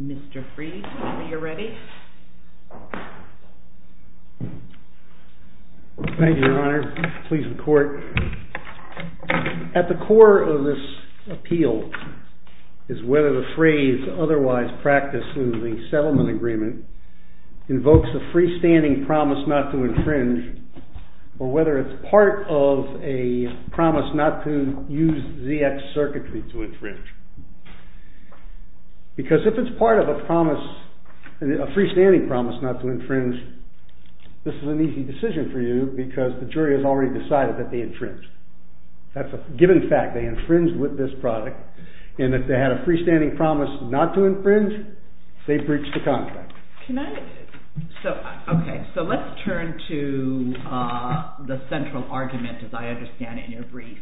Mr. Freed, are you ready? Thank you, Your Honor. Please, the Court. At the core of this appeal is whether the Freed's otherwise practiced losing settlement agreement invokes a freestanding promise not to infringe, or whether it's part of a promise not to use ZX circuitry to infringe. Because if it's part of a promise, a freestanding promise not to infringe, this is an easy decision for you because the jury has already decided that they infringe. That's a given fact. They infringed with this product, and if they had a freestanding promise not to infringe, they breached the contract. Okay, so let's turn to the central argument, as I understand it, in your brief.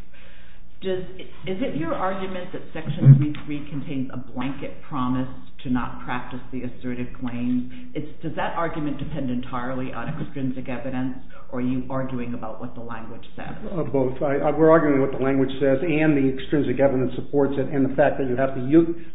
Is it your argument that Section 3.3 contains a blanket promise to not practice the assertive claims? Does that argument depend entirely on extrinsic evidence, or are you arguing about what the language says? Both. We're arguing what the language says and the extrinsic evidence supports it, and the fact that you have to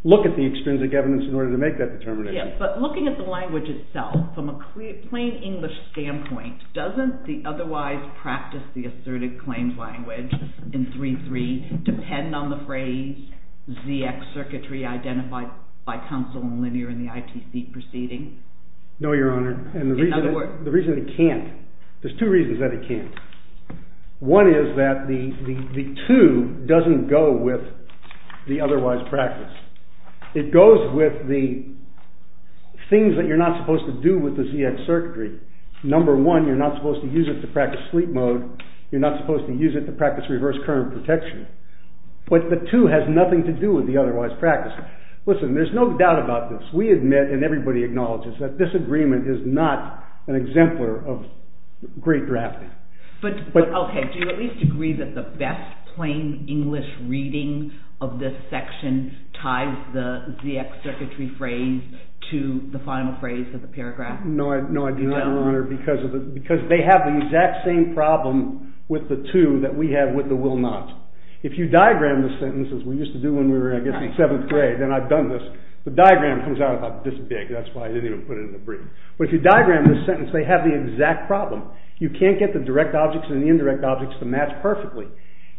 look at the extrinsic evidence in order to make that determination. Yes, but looking at the language itself, from a plain English standpoint, doesn't the otherwise practice the assertive claims language in 3.3 depend on the phrase ZX circuitry identified by counsel in Linear in the ITC proceeding? No, Your Honor, and the reason it can't, there's two reasons that it can't. One is that the 2 doesn't go with the otherwise practice. It goes with the things that you're not supposed to do with the ZX circuitry. Number one, you're not supposed to use it to practice sleep mode. You're not supposed to use it to practice reverse current protection. But the 2 has nothing to do with the otherwise practice. Listen, there's no doubt about this. We admit, and everybody acknowledges, that this agreement is not an exemplar of great drafting. But, okay, do you at least agree that the best plain English reading of this section ties the ZX circuitry phrase to the final phrase of the paragraph? No, I do not, Your Honor, because they have the exact same problem with the 2 that we have with the will not. If you diagram the sentences, we used to do when we were, I guess, in 7th grade, and I've done this, the diagram comes out about this big, that's why I didn't even put it in the brief. But if you diagram this sentence, they have the exact problem. You can't get the direct objects and the indirect objects to match perfectly.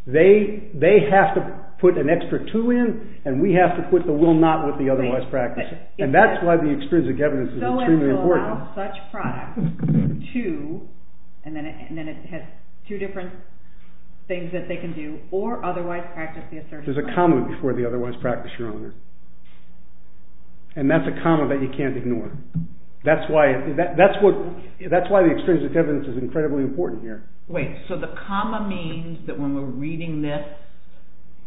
They have to put an extra 2 in, and we have to put the will not with the otherwise practice. And that's why the extrinsic evidence is extremely important. So it will allow such products to, and then it has two different things that they can do, or otherwise practice the assertion. There's a comma before the otherwise practice, Your Honor. And that's a comma that you can't ignore. That's why the extrinsic evidence is incredibly important here. Wait, so the comma means that when we're reading this,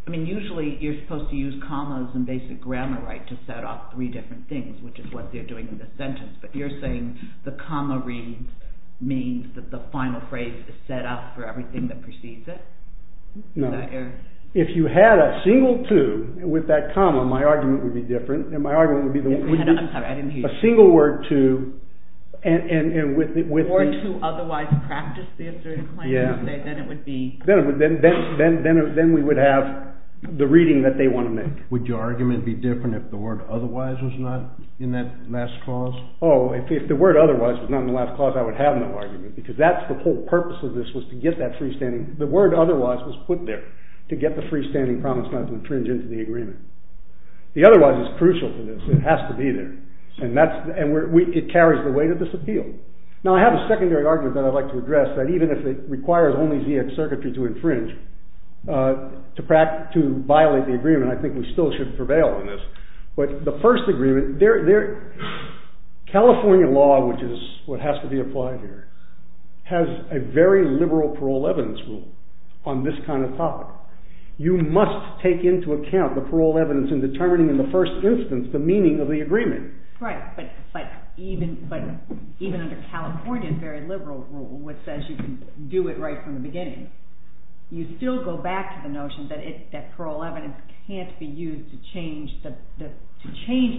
I mean, usually you're supposed to use commas in basic grammar, right, to set off three different things, which is what they're doing in this sentence. But you're saying the comma read means that the final phrase is set up for everything that precedes it? No. If you had a single 2 with that comma, my argument would be different. I'm sorry, I didn't hear you. A single word 2, and with the… Word 2 otherwise practice the assertive claim. Yeah. Then it would be… Then we would have the reading that they want to make. Would your argument be different if the word otherwise was not in that last clause? Oh, if the word otherwise was not in the last clause, I would have no argument, because that's the whole purpose of this, was to get that freestanding. The word otherwise was put there to get the freestanding promise not to infringe into the agreement. The otherwise is crucial to this. It has to be there. And it carries the weight of this appeal. Now, I have a secondary argument that I'd like to address, that even if it requires only ZX circuitry to infringe, to violate the agreement, I think we still should prevail on this. But the first agreement… California law, which is what has to be applied here, has a very liberal parole evidence rule on this kind of topic. You must take into account the parole evidence in determining in the first instance the meaning of the agreement. Right, but even under California's very liberal rule, which says you can do it right from the beginning, you still go back to the notion that parole evidence can't be used to change the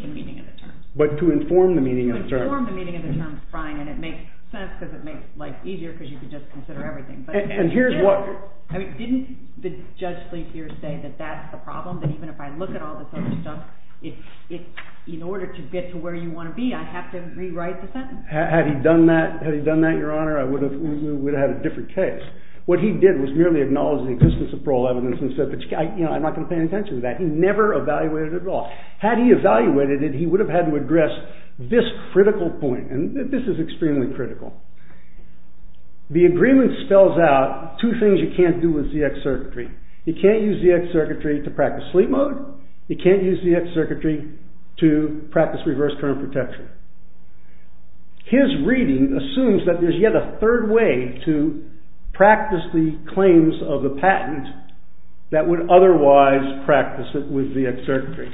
meaning of the term. But to inform the meaning of the term. To inform the meaning of the term is fine, and it makes sense, because it makes life easier, because you can just consider everything. And here's what… I mean, didn't the Judge Sleepier say that that's the problem, that even if I look at all this other stuff, in order to get to where you want to be, I have to rewrite the sentence? Had he done that, Your Honor, we would have had a different case. What he did was merely acknowledge the existence of parole evidence and said, you know, I'm not going to pay any attention to that. He never evaluated it at all. Had he evaluated it, he would have had to address this critical point, and this is extremely critical. The agreement spells out two things you can't do with ZX circuitry. You can't use ZX circuitry to practice sleep mode. You can't use ZX circuitry to practice reverse current protection. His reading assumes that there's yet a third way to practice the claims of the patent that would otherwise practice it with ZX circuitry.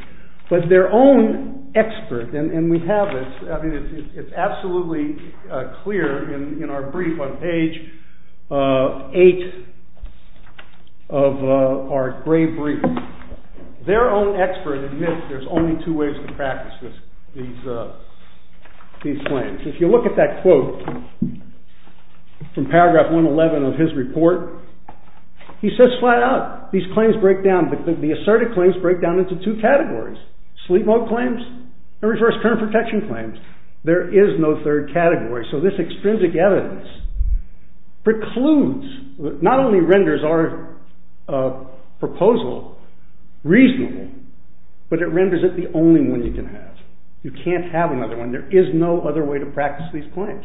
But their own expert, and we have this, I mean, it's absolutely clear in our brief on page 8 of our gray brief. Their own expert admits there's only two ways to practice these claims. If you look at that quote from paragraph 111 of his report, he says flat out, these claims break down. The asserted claims break down into two categories. Sleep mode claims and reverse current protection claims. There is no third category. So this extrinsic evidence precludes, not only renders our proposal reasonable, but it renders it the only one you can have. You can't have another one. There is no other way to practice these claims.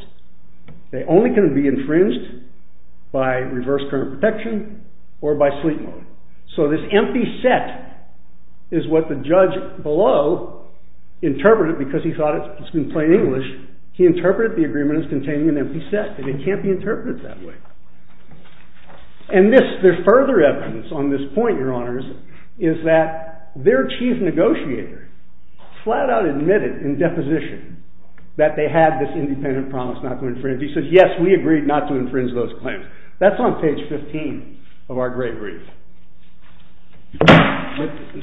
They only can be infringed by reverse current protection or by sleep mode. So this empty set is what the judge below interpreted because he thought it's been plain English. He interpreted the agreement as containing an empty set. It can't be interpreted that way. And this, there's further evidence on this point, your honors, is that their chief negotiator flat out admitted in deposition that they had this independent promise not to infringe. He said, yes, we agreed not to infringe those claims. That's on page 15 of our gray brief.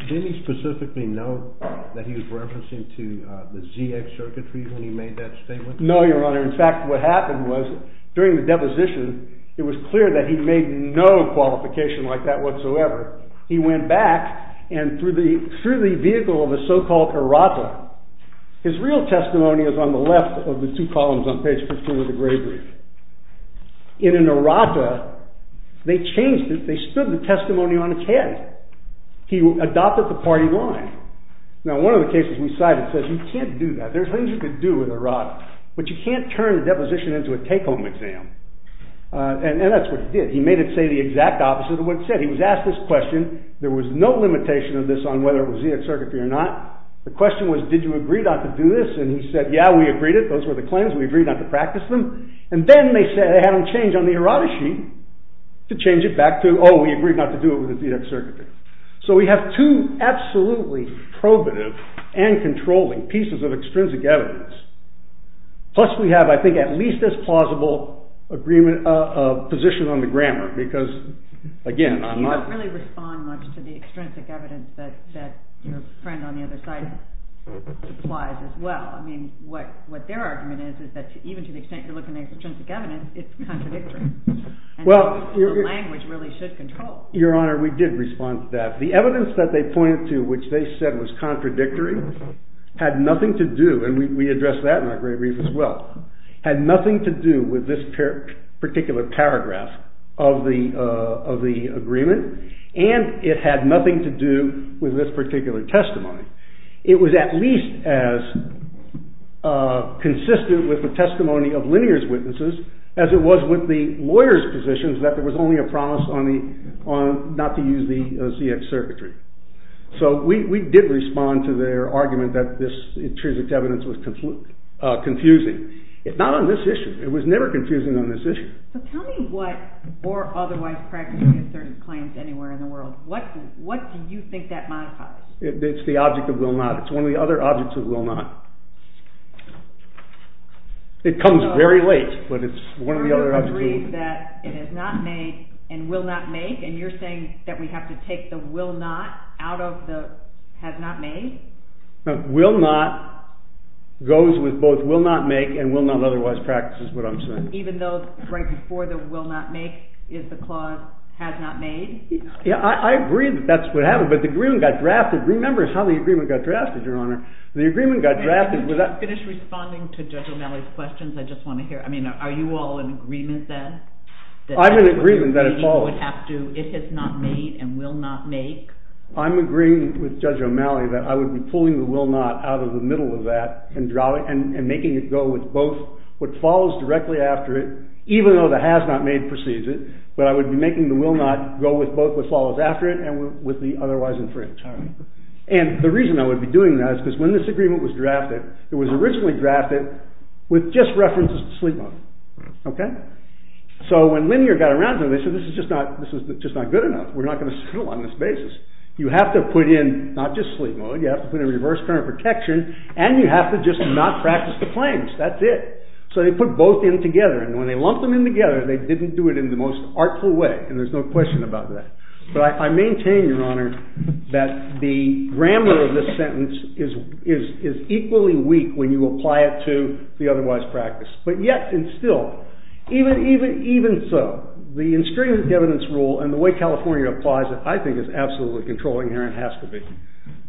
Did he specifically note that he was referencing to the ZX circuitry when he made that statement? No, your honor. In fact, what happened was during the deposition, it was clear that he made no qualification like that whatsoever. He went back and through the vehicle of a so-called errata, his real testimony is on the left of the two columns on page 15 of the gray brief. In an errata, they changed it. They stood the testimony on its head. He adopted the party line. Now, one of the cases we cited says you can't do that. There's things you could do with an errata, but you can't turn a deposition into a take-home exam. And that's what he did. He made it say the exact opposite of what it said. He was asked this question. There was no limitation of this on whether it was ZX circuitry or not. The question was, did you agree not to do this? And he said, yeah, we agreed it. Those were the claims. We agreed not to practice them. And then they said they had him change on the errata sheet to change it back to, oh, we agreed not to do it with ZX circuitry. So we have two absolutely probative and controlling pieces of extrinsic evidence. Plus we have, I think, at least as plausible a position on the grammar because, again, I'm not… You don't really respond much to the extrinsic evidence that your friend on the other side implies as well. I mean, what their argument is is that even to the extent you're looking at extrinsic evidence, it's contradictory. And the language really should control. Your Honor, we did respond to that. The evidence that they pointed to which they said was contradictory had nothing to do, and we addressed that in our great brief as well, had nothing to do with this particular paragraph of the agreement, and it had nothing to do with this particular testimony. It was at least as consistent with the testimony of linear's witnesses as it was with the lawyer's positions that there was only a promise not to use the ZX circuitry. So we did respond to their argument that this extrinsic evidence was confusing. It's not on this issue. It was never confusing on this issue. So tell me what, or otherwise practically asserted claims anywhere in the world, what do you think that modifies? It's the object of will not. It's one of the other objects of will not. It comes very late, but it's one of the other objects. So you agree that it is not made and will not make, and you're saying that we have to take the will not out of the has not made? Will not goes with both will not make and will not otherwise practice is what I'm saying. Even though right before the will not make is the clause has not made? Yeah, I agree that that's what happened. But the agreement got drafted. Remember how the agreement got drafted, Your Honor. The agreement got drafted. Can you just finish responding to Judge O'Malley's questions? I just want to hear. I mean, are you all in agreement then? I'm in agreement that it follows. It has not made and will not make? I'm agreeing with Judge O'Malley that I would be pulling the will not out of the middle of that and making it go with both. What follows directly after it, even though the has not made precedes it, but I would be making the will not go with both what follows after it and with the otherwise infringed. And the reason I would be doing that is because when this agreement was drafted, it was originally drafted with just references to sleep mode. So when Linear got around to it, they said this is just not good enough. We're not going to settle on this basis. You have to put in not just sleep mode. You have to put in reverse current protection, and you have to just not practice the claims. That's it. So they put both in together. And when they lumped them in together, they didn't do it in the most artful way, and there's no question about that. But I maintain, Your Honor, that the grammar of this sentence is equally weak when you apply it to the otherwise practice. But yet and still, even so, the instrument of evidence rule and the way California applies it, I think is absolutely control-inherent, has to be,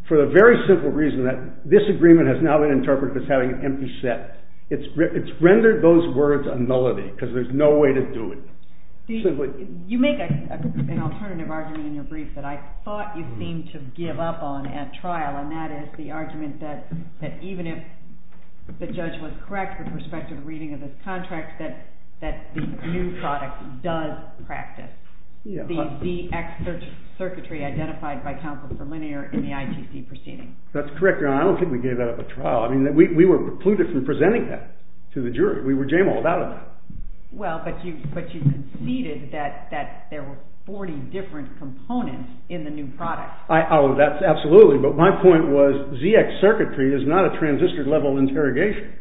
for the very simple reason that this agreement has now been interpreted as having an empty set. It's rendered those words a nullity because there's no way to do it. You make an alternative argument in your brief that I thought you seemed to give up on at trial, and that is the argument that even if the judge was correct with respect to the reading of this contract, that the new product does practice. The ZX circuitry identified by Counsel for Linear in the ITC proceeding. That's correct, Your Honor. I don't think we gave that up at trial. I mean, we were precluded from presenting that to the jury. We were jam-walled out of that. Well, but you conceded that there were 40 different components in the new product. Oh, that's absolutely. But my point was ZX circuitry is not a transistor-level interrogation.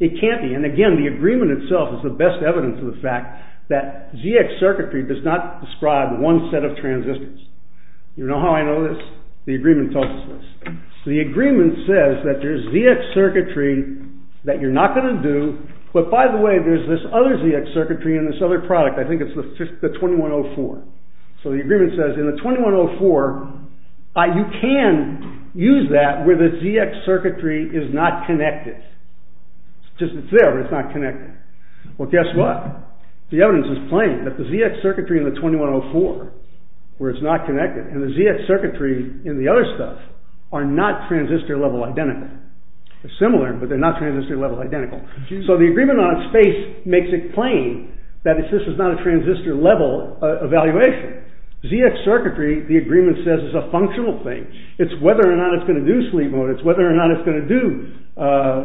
It can't be. And again, the agreement itself is the best evidence of the fact that ZX circuitry does not describe one set of transistors. You know how I know this? The agreement tells us this. The agreement says that there's ZX circuitry that you're not going to do, but by the way, there's this other ZX circuitry in this other product. I think it's the 2104. So the agreement says in the 2104, you can use that where the ZX circuitry is not connected. It's just there, but it's not connected. Well, guess what? The evidence is plain that the ZX circuitry in the 2104, where it's not connected, and the ZX circuitry in the other stuff are not transistor-level identical. They're similar, but they're not transistor-level identical. So the agreement on space makes it plain that this is not a transistor-level evaluation. ZX circuitry, the agreement says, is a functional thing. It's whether or not it's going to do sleep mode. It's whether or not it's going to do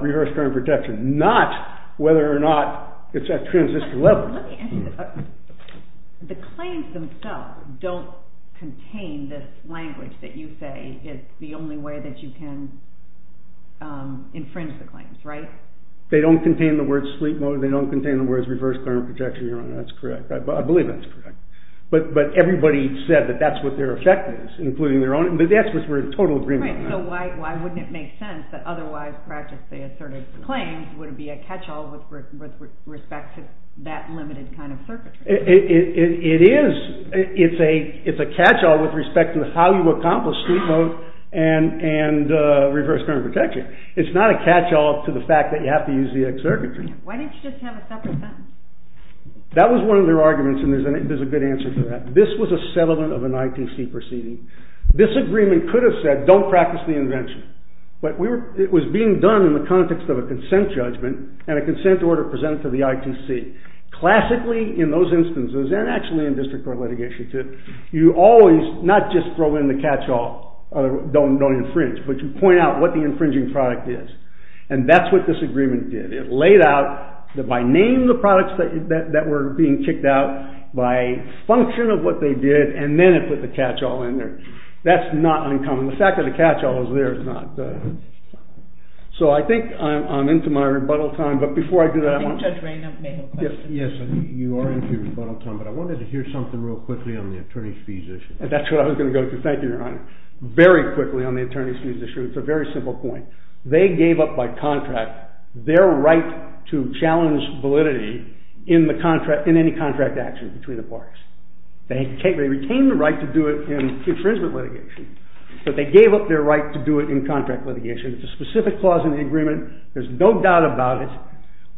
reverse current protection, not whether or not it's at transistor-level. The claims themselves don't contain this language that you say is the only way that you can infringe the claims, right? They don't contain the words sleep mode. They don't contain the words reverse current protection. That's correct. I believe that's correct. But everybody said that that's what their effect is, including their own. But that's what we're in total agreement on. So why wouldn't it make sense that otherwise practically asserted claims would be a catch-all with respect to that limited kind of circuitry? It is. It's a catch-all with respect to how you accomplish sleep mode and reverse current protection. It's not a catch-all to the fact that you have to use ZX circuitry. Why didn't you just have a separate sentence? That was one of their arguments, and there's a good answer to that. This was a settlement of an IPC proceeding. This agreement could have said don't practice the invention. But it was being done in the context of a consent judgment and a consent order presented to the ITC. Classically, in those instances, and actually in district court litigation too, you always not just throw in the catch-all, don't infringe, but you point out what the infringing product is. And that's what this agreement did. It laid out that by name, the products that were being kicked out by function of what they did, and then it put the catch-all in there. That's not uncommon. The fact that the catch-all is there is not. So I think I'm into my rebuttal time. But before I do that, I want to- I think Judge Raynard may have a question. Yes. You are into your rebuttal time, but I wanted to hear something real quickly on the attorney's fees issue. That's what I was going to go to. Thank you, Your Honor. Very quickly on the attorney's fees issue. It's a very simple point. They gave up by contract their right to challenge validity in any contract action between the parties. They retained the right to do it in infringement litigation. But they gave up their right to do it in contract litigation. It's a specific clause in the agreement. There's no doubt about it.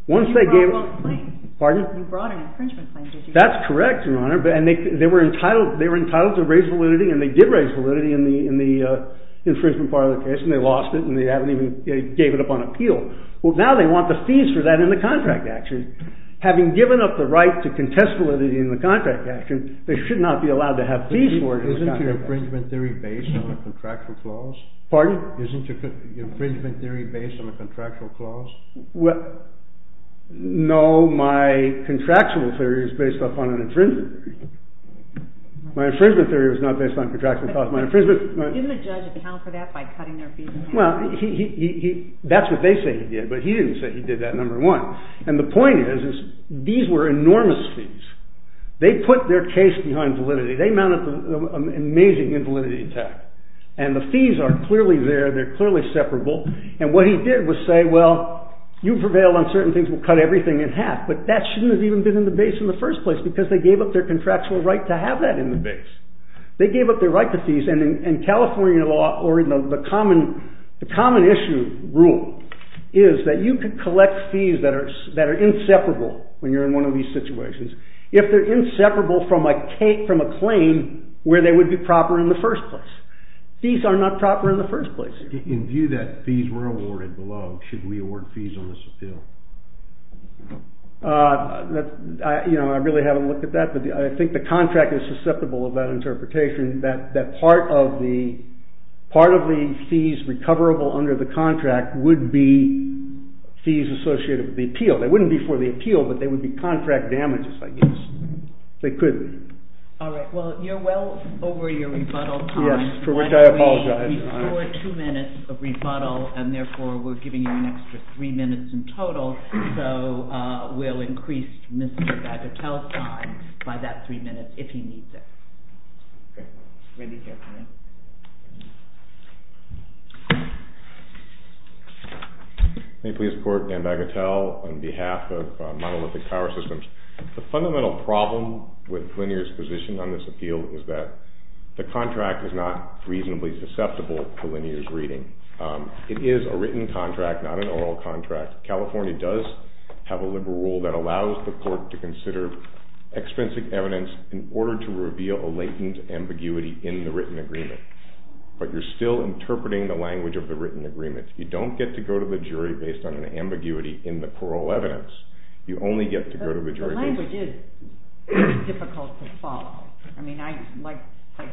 Once they gave- You brought an infringement claim. You brought an infringement claim. That's correct, Your Honor. And they were entitled to raise validity, and they did raise validity in the infringement part of the case. And they lost it, and they haven't even gave it up on appeal. Well, now they want the fees for that in the contract action. Having given up the right to contest validity in the contract action, they should not be allowed to have fees for it in the contract action. Isn't your infringement theory based on a contractual clause? Pardon? Isn't your infringement theory based on a contractual clause? No, my contractual theory is based upon an infringement theory. My infringement theory is not based on contractual clause. My infringement- Didn't the judge account for that by cutting their fees in half? Well, that's what they say he did, but he didn't say he did that, number one. And the point is, these were enormous fees. They put their case behind validity. They mounted an amazing invalidity attack. And the fees are clearly there. They're clearly separable. And what he did was say, well, you've prevailed on certain things. We'll cut everything in half. But that shouldn't have even been in the base in the first place, because they gave up their contractual right to have that in the base. They gave up their right to fees. And in California law, or in the common issue rule, is that you could collect fees that are inseparable when you're in one of these situations, if they're inseparable from a claim where they would be proper in the first place. Fees are not proper in the first place. In view that fees were awarded below, should we award fees on this appeal? I really haven't looked at that. But I think the contract is susceptible of that interpretation, that part of the fees recoverable under the contract would be fees associated with the appeal. They wouldn't be for the appeal, but they would be contract damages, I guess. They could be. All right. Well, you're well over your rebuttal time. Yes, for which I apologize. You have before two minutes of rebuttal, and therefore we're giving you an extra three minutes in total. So we'll increase Mr. Bagatelle's time by that three minutes, if he needs it. Great. Randy here, please. May it please the Court, Dan Bagatelle on behalf of Monolithic Power Systems. The fundamental problem with Collinear's position on this appeal is that the contract is not reasonably susceptible to Collinear's reading. It is a written contract, not an oral contract. California does have a liberal rule that allows the court to consider expensive evidence in order to reveal a latent ambiguity in the written agreement. But you're still interpreting the language of the written agreement. You don't get to go to the jury based on an ambiguity in the parole evidence. You only get to go to the jury based on... The language is difficult to follow. I mean, like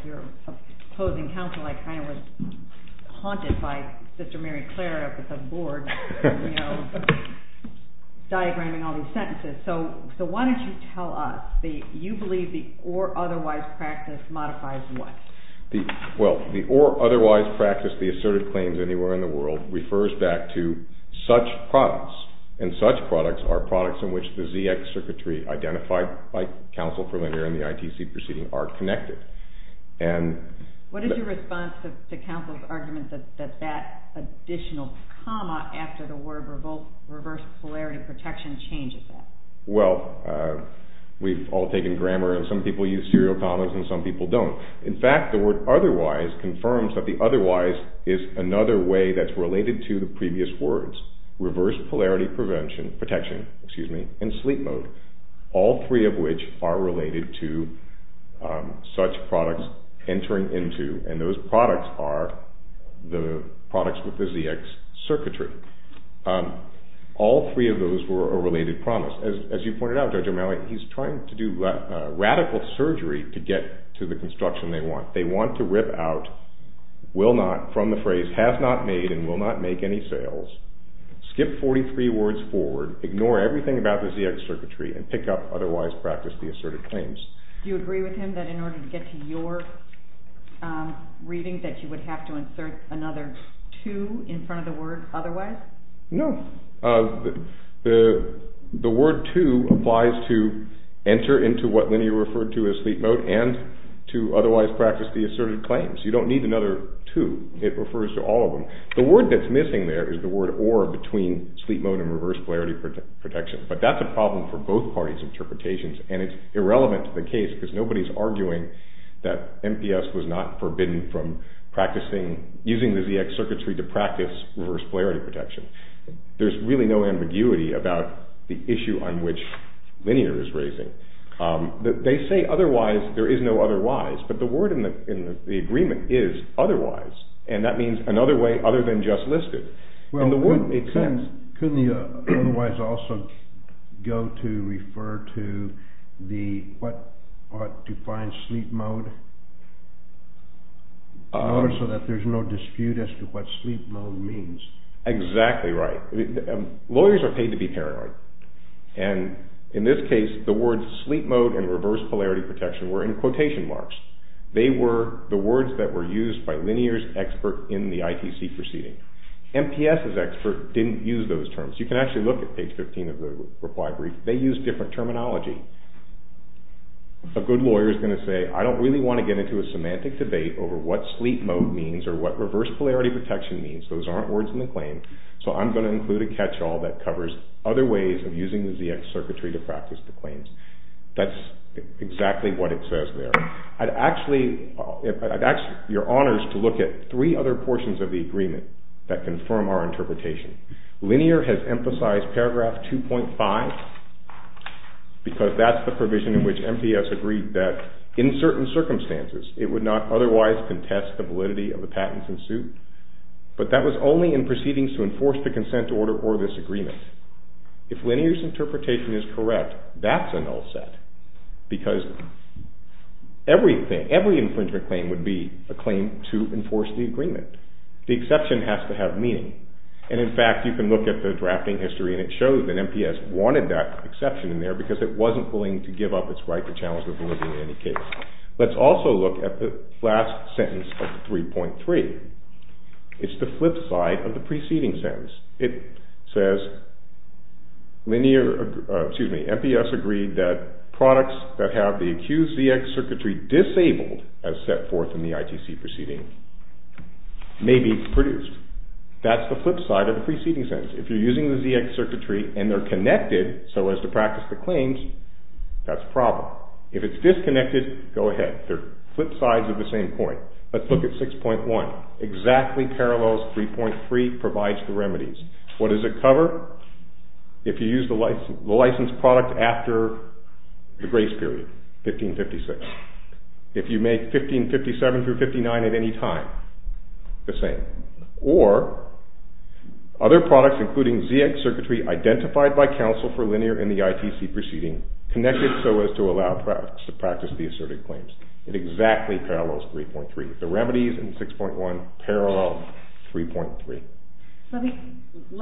your opposing counsel, I kind of was haunted by Sister Mary Clare up at the board, you know, diagramming all these sentences. So why don't you tell us, you believe the or otherwise practice modifies what? Well, the or otherwise practice, the assertive claims anywhere in the world refers back to such products. And such products are products in which the ZX circuitry identified by counsel for Linear and the ITC proceeding are connected. And... What is your response to counsel's argument that that additional comma after the word reverse polarity protection changes that? Well, we've all taken grammar and some people use serial commas and some people don't. In fact, the word otherwise confirms that the otherwise is another way that's related to the previous words. Reverse polarity prevention protection, excuse me, in sleep mode. All three of which are related to such products entering into. And those products are the products with the ZX circuitry. All three of those were a related promise. As you pointed out, Judge O'Malley, he's trying to do radical surgery to get to the construction they want. They want to rip out, will not, from the phrase, has not made and will not make any sales. Skip 43 words forward, ignore everything about the ZX circuitry and pick up otherwise practice, the assertive claims. Do you agree with him that in order to get to your reading that you would have to insert another two in front of the word otherwise? No, the word two applies to enter into what linear referred to as sleep mode and to otherwise practice the assertive claims. You don't need another two. It refers to all of them. The word that's missing there is the word or between sleep mode and reverse polarity protection. But that's a problem for both parties interpretations. And it's irrelevant to the case because nobody's arguing that MPS was not forbidden from practicing using the ZX circuitry to practice reverse polarity protection. There's really no ambiguity about the issue on which linear is raising. They say otherwise. There is no otherwise. But the word in the agreement is otherwise. And that means another way other than just listed. Couldn't the otherwise also go to refer to what defines sleep mode in order so that there's no dispute as to what sleep mode means? Exactly right. Lawyers are paid to be paranoid. And in this case, the words sleep mode and reverse polarity protection were in quotation marks. They were the words that were used by linear's expert in the ITC proceeding. MPS's expert didn't use those terms. You can actually look at page 15 of the reply brief. They used different terminology. A good lawyer is going to say, I don't really want to get into a semantic debate over what sleep mode means or what reverse polarity protection means. Those aren't words in the claim. So I'm going to include a catch-all that covers other ways of using the ZX circuitry to practice the claims. That's exactly what it says there. I'd ask your honors to look at three other portions of the agreement that confirm our interpretation. Linear has emphasized paragraph 2.5 because that's the provision in which MPS agreed that in certain circumstances, it would not otherwise contest the validity of the patents in suit. But that was only in proceedings to enforce the consent order or this agreement. If linear's interpretation is correct, that's a null set. Because every infringement claim would be a claim to enforce the agreement. The exception has to have meaning. And in fact, you can look at the drafting history and it shows that MPS wanted that exception in there because it wasn't willing to give up its right to challenge the validity in any case. Let's also look at the last sentence of 3.3. It's the flip side of the preceding sentence. It says MPS agreed that products that have the accused ZX circuitry disabled as set forth in the ITC proceeding may be produced. That's the flip side of the preceding sentence. If you're using the ZX circuitry and they're connected so as to practice the claims, that's a problem. If it's disconnected, go ahead. They're flip sides of the same coin. Let's look at 6.1. Exactly parallels 3.3, provides the remedies. What does it cover? If you use the licensed product after the grace period, 1556. If you make 1557 through 59 at any time, the same. Or other products including ZX circuitry identified by counsel for linear in the ITC proceeding, connected so as to practice the asserted claims. It exactly parallels 3.3. The remedies in 6.1 parallel 3.3. Let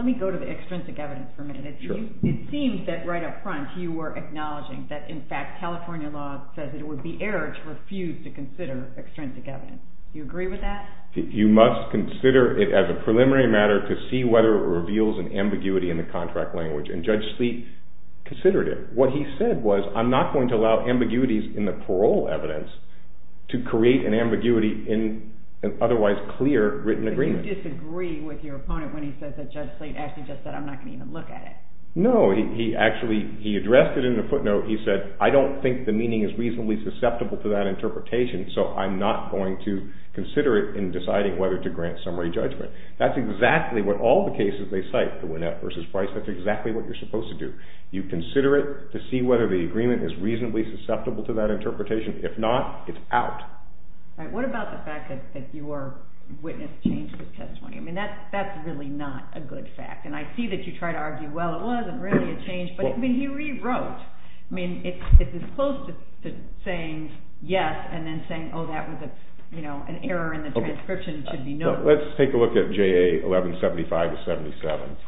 me go to the extrinsic evidence for a minute. It seems that right up front you were acknowledging that in fact California law says it would be error to refuse to consider extrinsic evidence. Do you agree with that? You must consider it as a preliminary matter to see whether it reveals an ambiguity in the contract language. And Judge Sleet considered it. What he said was, I'm not going to allow ambiguities in the parole evidence to create an ambiguity in an otherwise clear written agreement. But you disagree with your opponent when he says that Judge Sleet actually just said, I'm not going to even look at it. No, he actually addressed it in a footnote. He said, I don't think the meaning is reasonably susceptible to that interpretation, so I'm not going to consider it in deciding whether to grant summary judgment. That's exactly what all the cases they cite, the Winnett versus Price. That's exactly what you're supposed to do. You consider it to see whether the agreement is reasonably susceptible to that interpretation. If not, it's out. All right, what about the fact that your witness changed his testimony? I mean, that's really not a good fact. And I see that you try to argue, well, it wasn't really a change. But I mean, he rewrote. I mean, it's as close to saying yes and then saying, oh, that was an error in the transcription should be noted. Let's take a look at JA 1175 to 77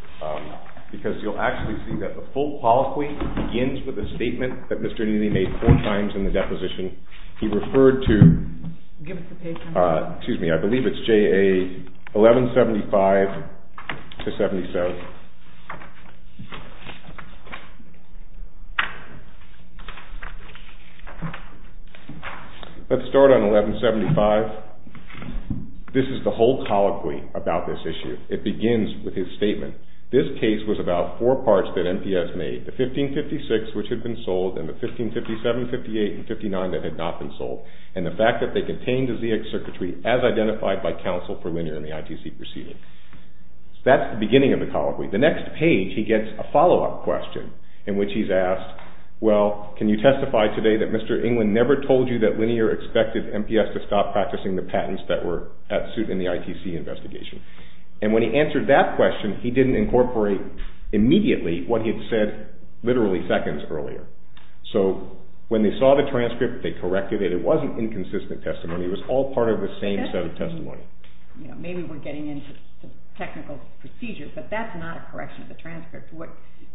because you'll actually see that the full polyclinic begins with a statement that Mr. Neely made four times in the deposition. He referred to, excuse me, I believe it's JA 1175 to 77. Let's start on 1175. This is the whole colloquy about this issue. It begins with his statement. This case was about four parts that MPS made, the 1556, which had been sold, and the 1557, 58, and 59 that had not been sold, and the fact that they contained the ZX circuitry as identified by counsel for linear in the ITC proceeding. That's the beginning of the colloquy. The next page he gets a follow-up question in which he's asked, well, can you testify today that Mr. England never told you that linear expected MPS to stop practicing the patents that were at suit in the ITC investigation? And when he answered that question, he didn't incorporate immediately what he had said literally seconds earlier. So when they saw the transcript, they corrected it. It wasn't inconsistent testimony. It was all part of the same set of testimony. Maybe we're getting into technical procedures, but that's not a correction of the transcript. I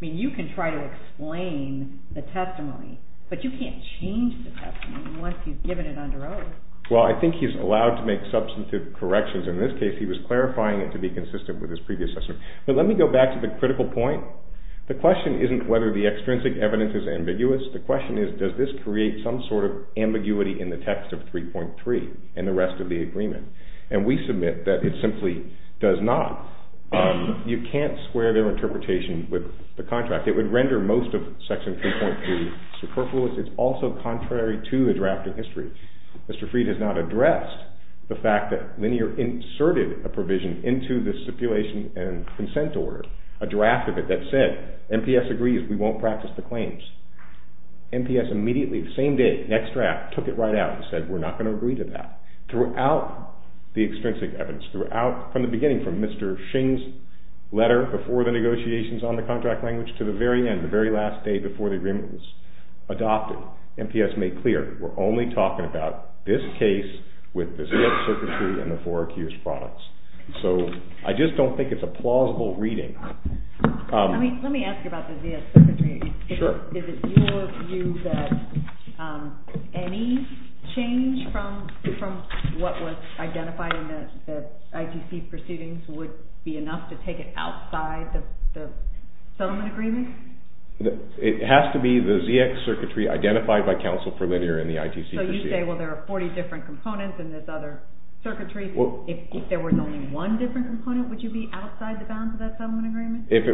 mean, you can try to explain the testimony, but you can't change the testimony once he's given it under oath. Well, I think he's allowed to make substantive corrections. In this case, he was clarifying it to be consistent with his previous testimony. But let me go back to the critical point. The question isn't whether the extrinsic evidence is ambiguous. The question is, does this create some sort of ambiguity in the text of 3.3 and the rest of the agreement? And we submit that it simply does not. You can't square their interpretation with the contract. It would render most of Section 3.3 superfluous. It's also contrary to the drafting history. Mr. Fried has not addressed the fact that Linear inserted a provision into the stipulation and consent order, a draft of it that said, MPS agrees, we won't practice the claims. MPS immediately, the same day, next draft, took it right out and said, we're not going to agree to that. Throughout the extrinsic evidence, from the beginning, from Mr. Shing's letter before the negotiations on the contract language to the very end, the very last day before the agreement was adopted, MPS made clear that we're only talking about this case with the ZS circuitry and the four accused products. So I just don't think it's a plausible reading. Let me ask you about the ZS circuitry. Is it your view that any change from what was identified in the ITC proceedings would be enough to take it outside the settlement agreement? It has to be the ZS circuitry identified by counsel for Linear in the ITC proceedings. So you say, well, there are 40 different components in this other circuitry. If there was only one different component, would you be outside the bounds of that settlement agreement? Let's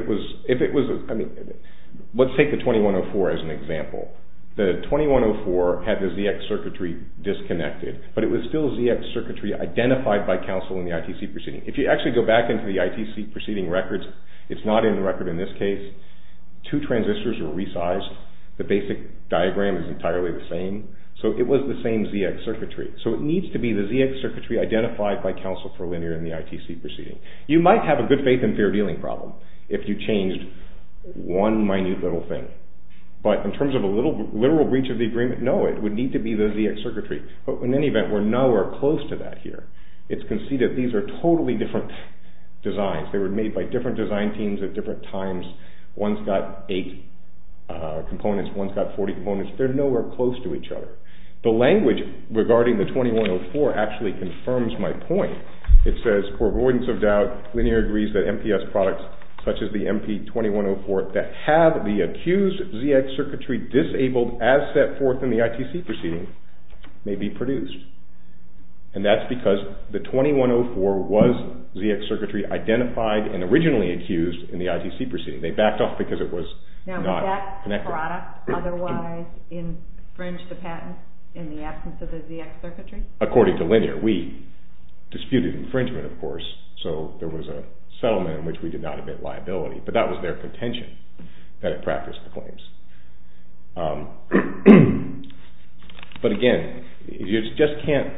take the 2104 as an example. The 2104 had the ZS circuitry disconnected, but it was still ZS circuitry identified by counsel in the ITC proceeding. If you actually go back into the ITC proceeding records, it's not in the record in this case. Two transistors were resized. The basic diagram is entirely the same. So it was the same ZS circuitry. So it needs to be the ZS circuitry identified by counsel for Linear in the ITC proceeding. You might have a good faith and fair dealing problem if you changed one minute little thing. But in terms of a literal breach of the agreement, no, it would need to be the ZS circuitry. But in any event, we're nowhere close to that here. It's conceded these are totally different designs. They were made by different design teams at different times. One's got eight components. One's got 40 components. They're nowhere close to each other. The language regarding the 2104 actually confirms my point. It says, for avoidance of doubt, Linear agrees that MPS products such as the MP2104 that have the accused ZS circuitry disabled as set forth in the ITC proceeding may be produced. And that's because the 2104 was ZS circuitry identified and originally accused in the ITC proceeding. They backed off because it was not connected. Now, would that product otherwise infringe the patent in the absence of the ZS circuitry? According to Linear, we disputed infringement, of course, so there was a settlement in which we did not admit liability. But that was their contention that it practiced the claims. But again, you just can't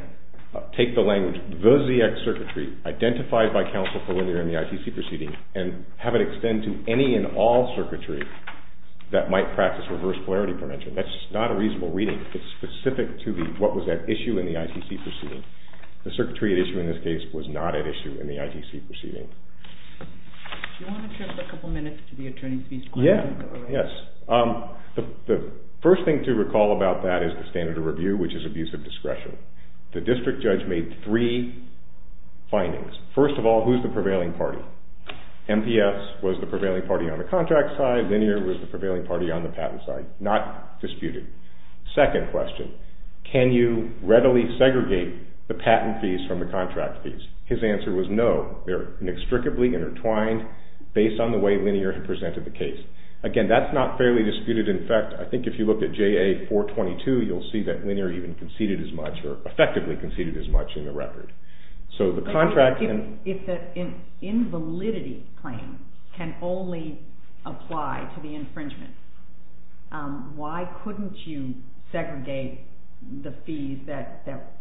take the language, the ZS circuitry identified by counsel for Linear in the ITC proceeding and have it extend to any and all circuitry that might practice reverse polarity prevention. That's just not a reasonable reading. It's specific to what was at issue in the ITC proceeding. The circuitry at issue in this case was not at issue in the ITC proceeding. Do you want to trip a couple minutes to the attorney's piece? Yes. The first thing to recall about that is the standard of review, which is abuse of discretion. The district judge made three findings. First of all, who's the prevailing party? MPS was the prevailing party on the contract side. Linear was the prevailing party on the patent side. Not disputed. Second question, can you readily segregate the patent fees from the contract fees? His answer was no. They're inextricably intertwined based on the way Linear had presented the case. Again, that's not fairly disputed. In fact, I think if you look at JA-422, you'll see that Linear even conceded as much or effectively conceded as much in the record. If the invalidity claim can only apply to the infringement, why couldn't you segregate the fees that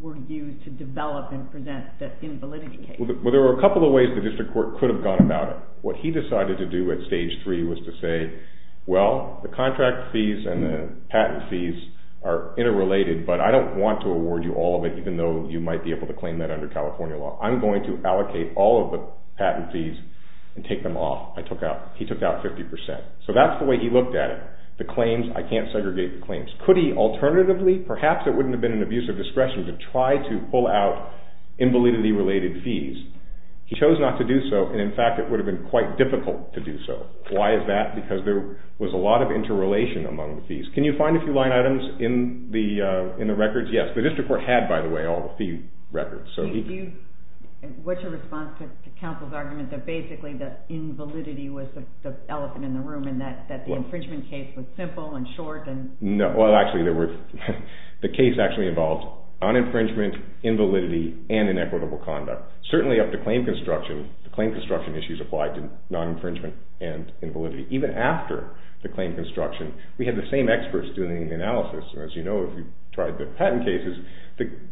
were used to develop and present the invalidity case? There were a couple of ways the district court could have gone about it. What he decided to do at stage three was to say, well, the contract fees and the patent fees are interrelated, but I don't want to award you all of it, even though you might be able to claim that under California law. I'm going to allocate all of the patent fees and take them off. He took out 50%. So that's the way he looked at it. The claims, I can't segregate the claims. Could he alternatively, perhaps it wouldn't have been an abuse of discretion, to try to pull out invalidity-related fees? He chose not to do so, and in fact it would have been quite difficult to do so. Why is that? Because there was a lot of interrelation among the fees. Can you find a few line items in the records? Yes, the district court had, by the way, all the fee records. What's your response to counsel's argument that basically the invalidity was the elephant in the room and that the infringement case was simple and short? No, well, actually the case actually involved uninfringement, invalidity, and inequitable conduct. Certainly up to claim construction, the claim construction issues applied to non-infringement and invalidity. Even after the claim construction, we had the same experts doing the analysis. As you know, if you've tried the patent cases,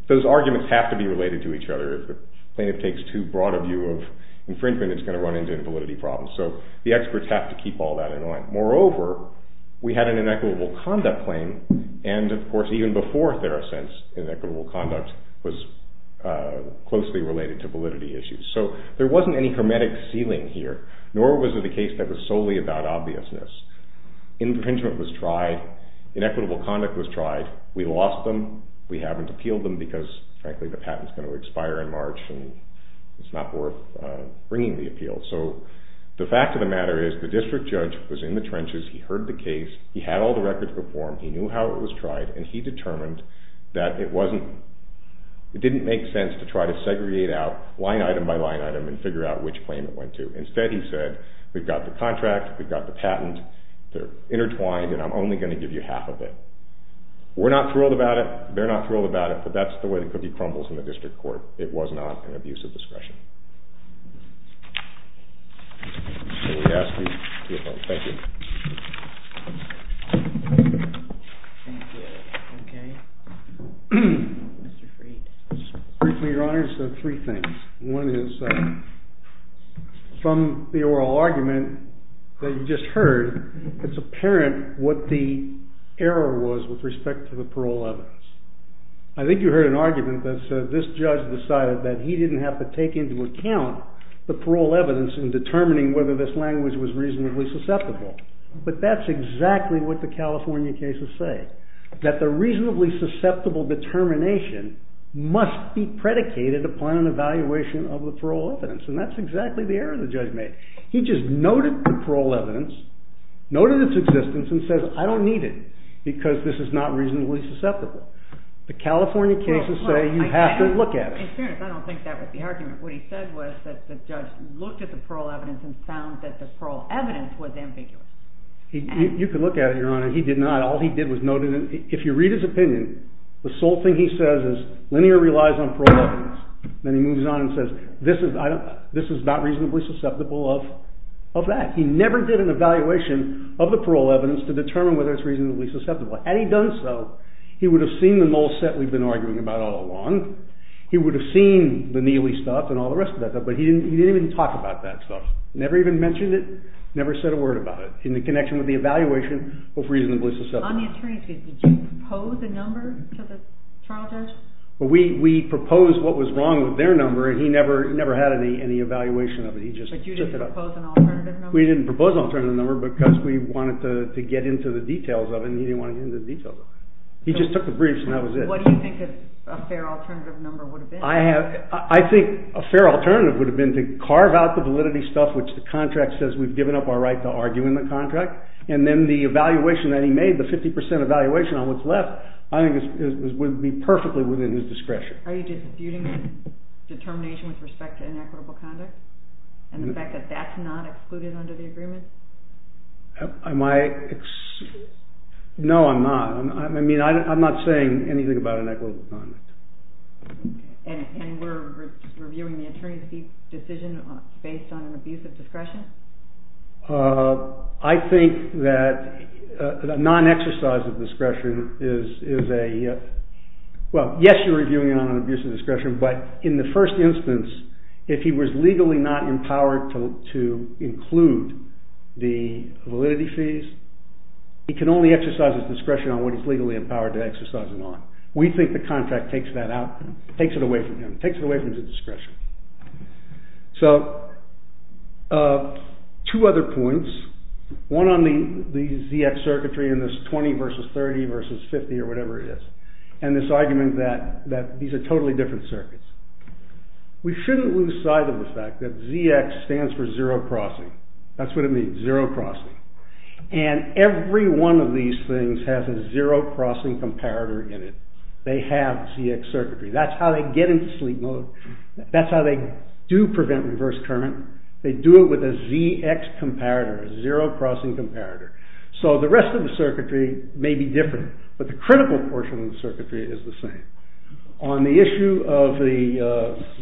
those arguments have to be related to each other. If the plaintiff takes too broad a view of infringement, it's going to run into invalidity problems. So the experts have to keep all that in line. Moreover, we had an inequitable conduct claim, and of course even before TheraSense, inequitable conduct was closely related to validity issues. So there wasn't any hermetic ceiling here, nor was it a case that was solely about obviousness. Infringement was tried. Inequitable conduct was tried. We lost them. We haven't appealed them because, frankly, the patent's going to expire in March, and it's not worth bringing the appeal. So the fact of the matter is the district judge was in the trenches. He heard the case. He had all the records before him. He knew how it was tried, and he determined that it didn't make sense to try to segregate out line item by line item and figure out which claim it went to. Instead, he said, we've got the contract, we've got the patent, they're intertwined, and I'm only going to give you half of it. We're not thrilled about it, they're not thrilled about it, but that's the way the cookie crumbles in the district court. It was not an abuse of discretion. So we ask you to vote. Thank you. Thank you. Okay. Mr. Freed. Mr. Freed, Your Honor, you said three things. One is, from the oral argument that you just heard, it's apparent what the error was with respect to the parole evidence. I think you heard an argument that said this judge decided that he didn't have to take into account the parole evidence in determining whether this language was reasonably susceptible. But that's exactly what the California cases say, that the reasonably susceptible determination must be predicated upon an evaluation of the parole evidence. And that's exactly the error the judge made. He just noted the parole evidence, noted its existence, and said, I don't need it because this is not reasonably susceptible. The California cases say you have to look at it. In fairness, I don't think that was the argument. What he said was that the judge looked at the parole evidence and found that the parole evidence was ambiguous. You can look at it, Your Honor. He did not. All he did was note it. If you read his opinion, the sole thing he says is linear relies on parole evidence. Then he moves on and says, this is not reasonably susceptible of that. He never did an evaluation of the parole evidence to determine whether it's reasonably susceptible. Had he done so, he would have seen the null set we've been arguing about all along. He would have seen the Neely stuff and all the rest of that stuff, but he didn't even talk about that stuff. Never even mentioned it. Never said a word about it in the connection with the evaluation of reasonably susceptible. On the attorney's case, did you propose a number to the trial judge? We proposed what was wrong with their number, and he never had any evaluation of it. He just took it up. But you didn't propose an alternative number? We didn't propose an alternative number because we wanted to get into the details of it, and he didn't want to get into the details of it. He just took the briefs, and that was it. What do you think a fair alternative number would have been? I think a fair alternative would have been to carve out the validity stuff, which the contract says we've given up our right to argue in the contract, and then the evaluation that he made, the 50 percent evaluation on what's left, I think would be perfectly within his discretion. Are you disputing the determination with respect to inequitable conduct and the fact that that's not excluded under the agreement? No, I'm not. I mean, I'm not saying anything about inequitable conduct. And we're reviewing the attorney's decision based on an abuse of discretion? I think that a non-exercise of discretion is a – well, yes, you're reviewing it on an abuse of discretion, but in the first instance, if he was legally not empowered to include the validity fees, he can only exercise his discretion on what he's legally empowered to exercise it on. We think the contract takes that out, takes it away from him, takes it away from his discretion. So, two other points. One on the ZX circuitry and this 20 versus 30 versus 50 or whatever it is, and this argument that these are totally different circuits. We shouldn't lose sight of the fact that ZX stands for zero-crossing. That's what it means, zero-crossing. And every one of these things has a zero-crossing comparator in it. They have ZX circuitry. That's how they get into sleep mode. That's how they do prevent reverse current. They do it with a ZX comparator, a zero-crossing comparator. So the rest of the circuitry may be different, but the critical portion of the circuitry is the same. On the issue of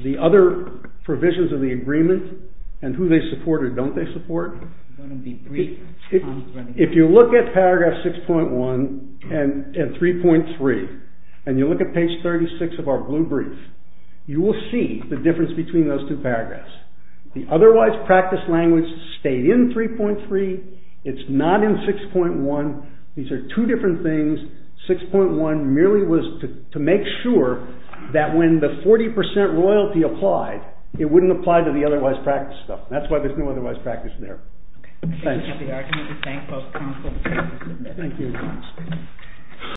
the other provisions of the agreement and who they support or don't they support, if you look at paragraph 6.1 and 3.3, and you look at page 36 of our blue brief, you will see the difference between those two paragraphs. The otherwise practiced language stayed in 3.3. It's not in 6.1. These are two different things. 6.1 merely was to make sure that when the 40% royalty applied, it wouldn't apply to the otherwise practiced stuff. That's why there's no otherwise practice there. Thanks. Thank you.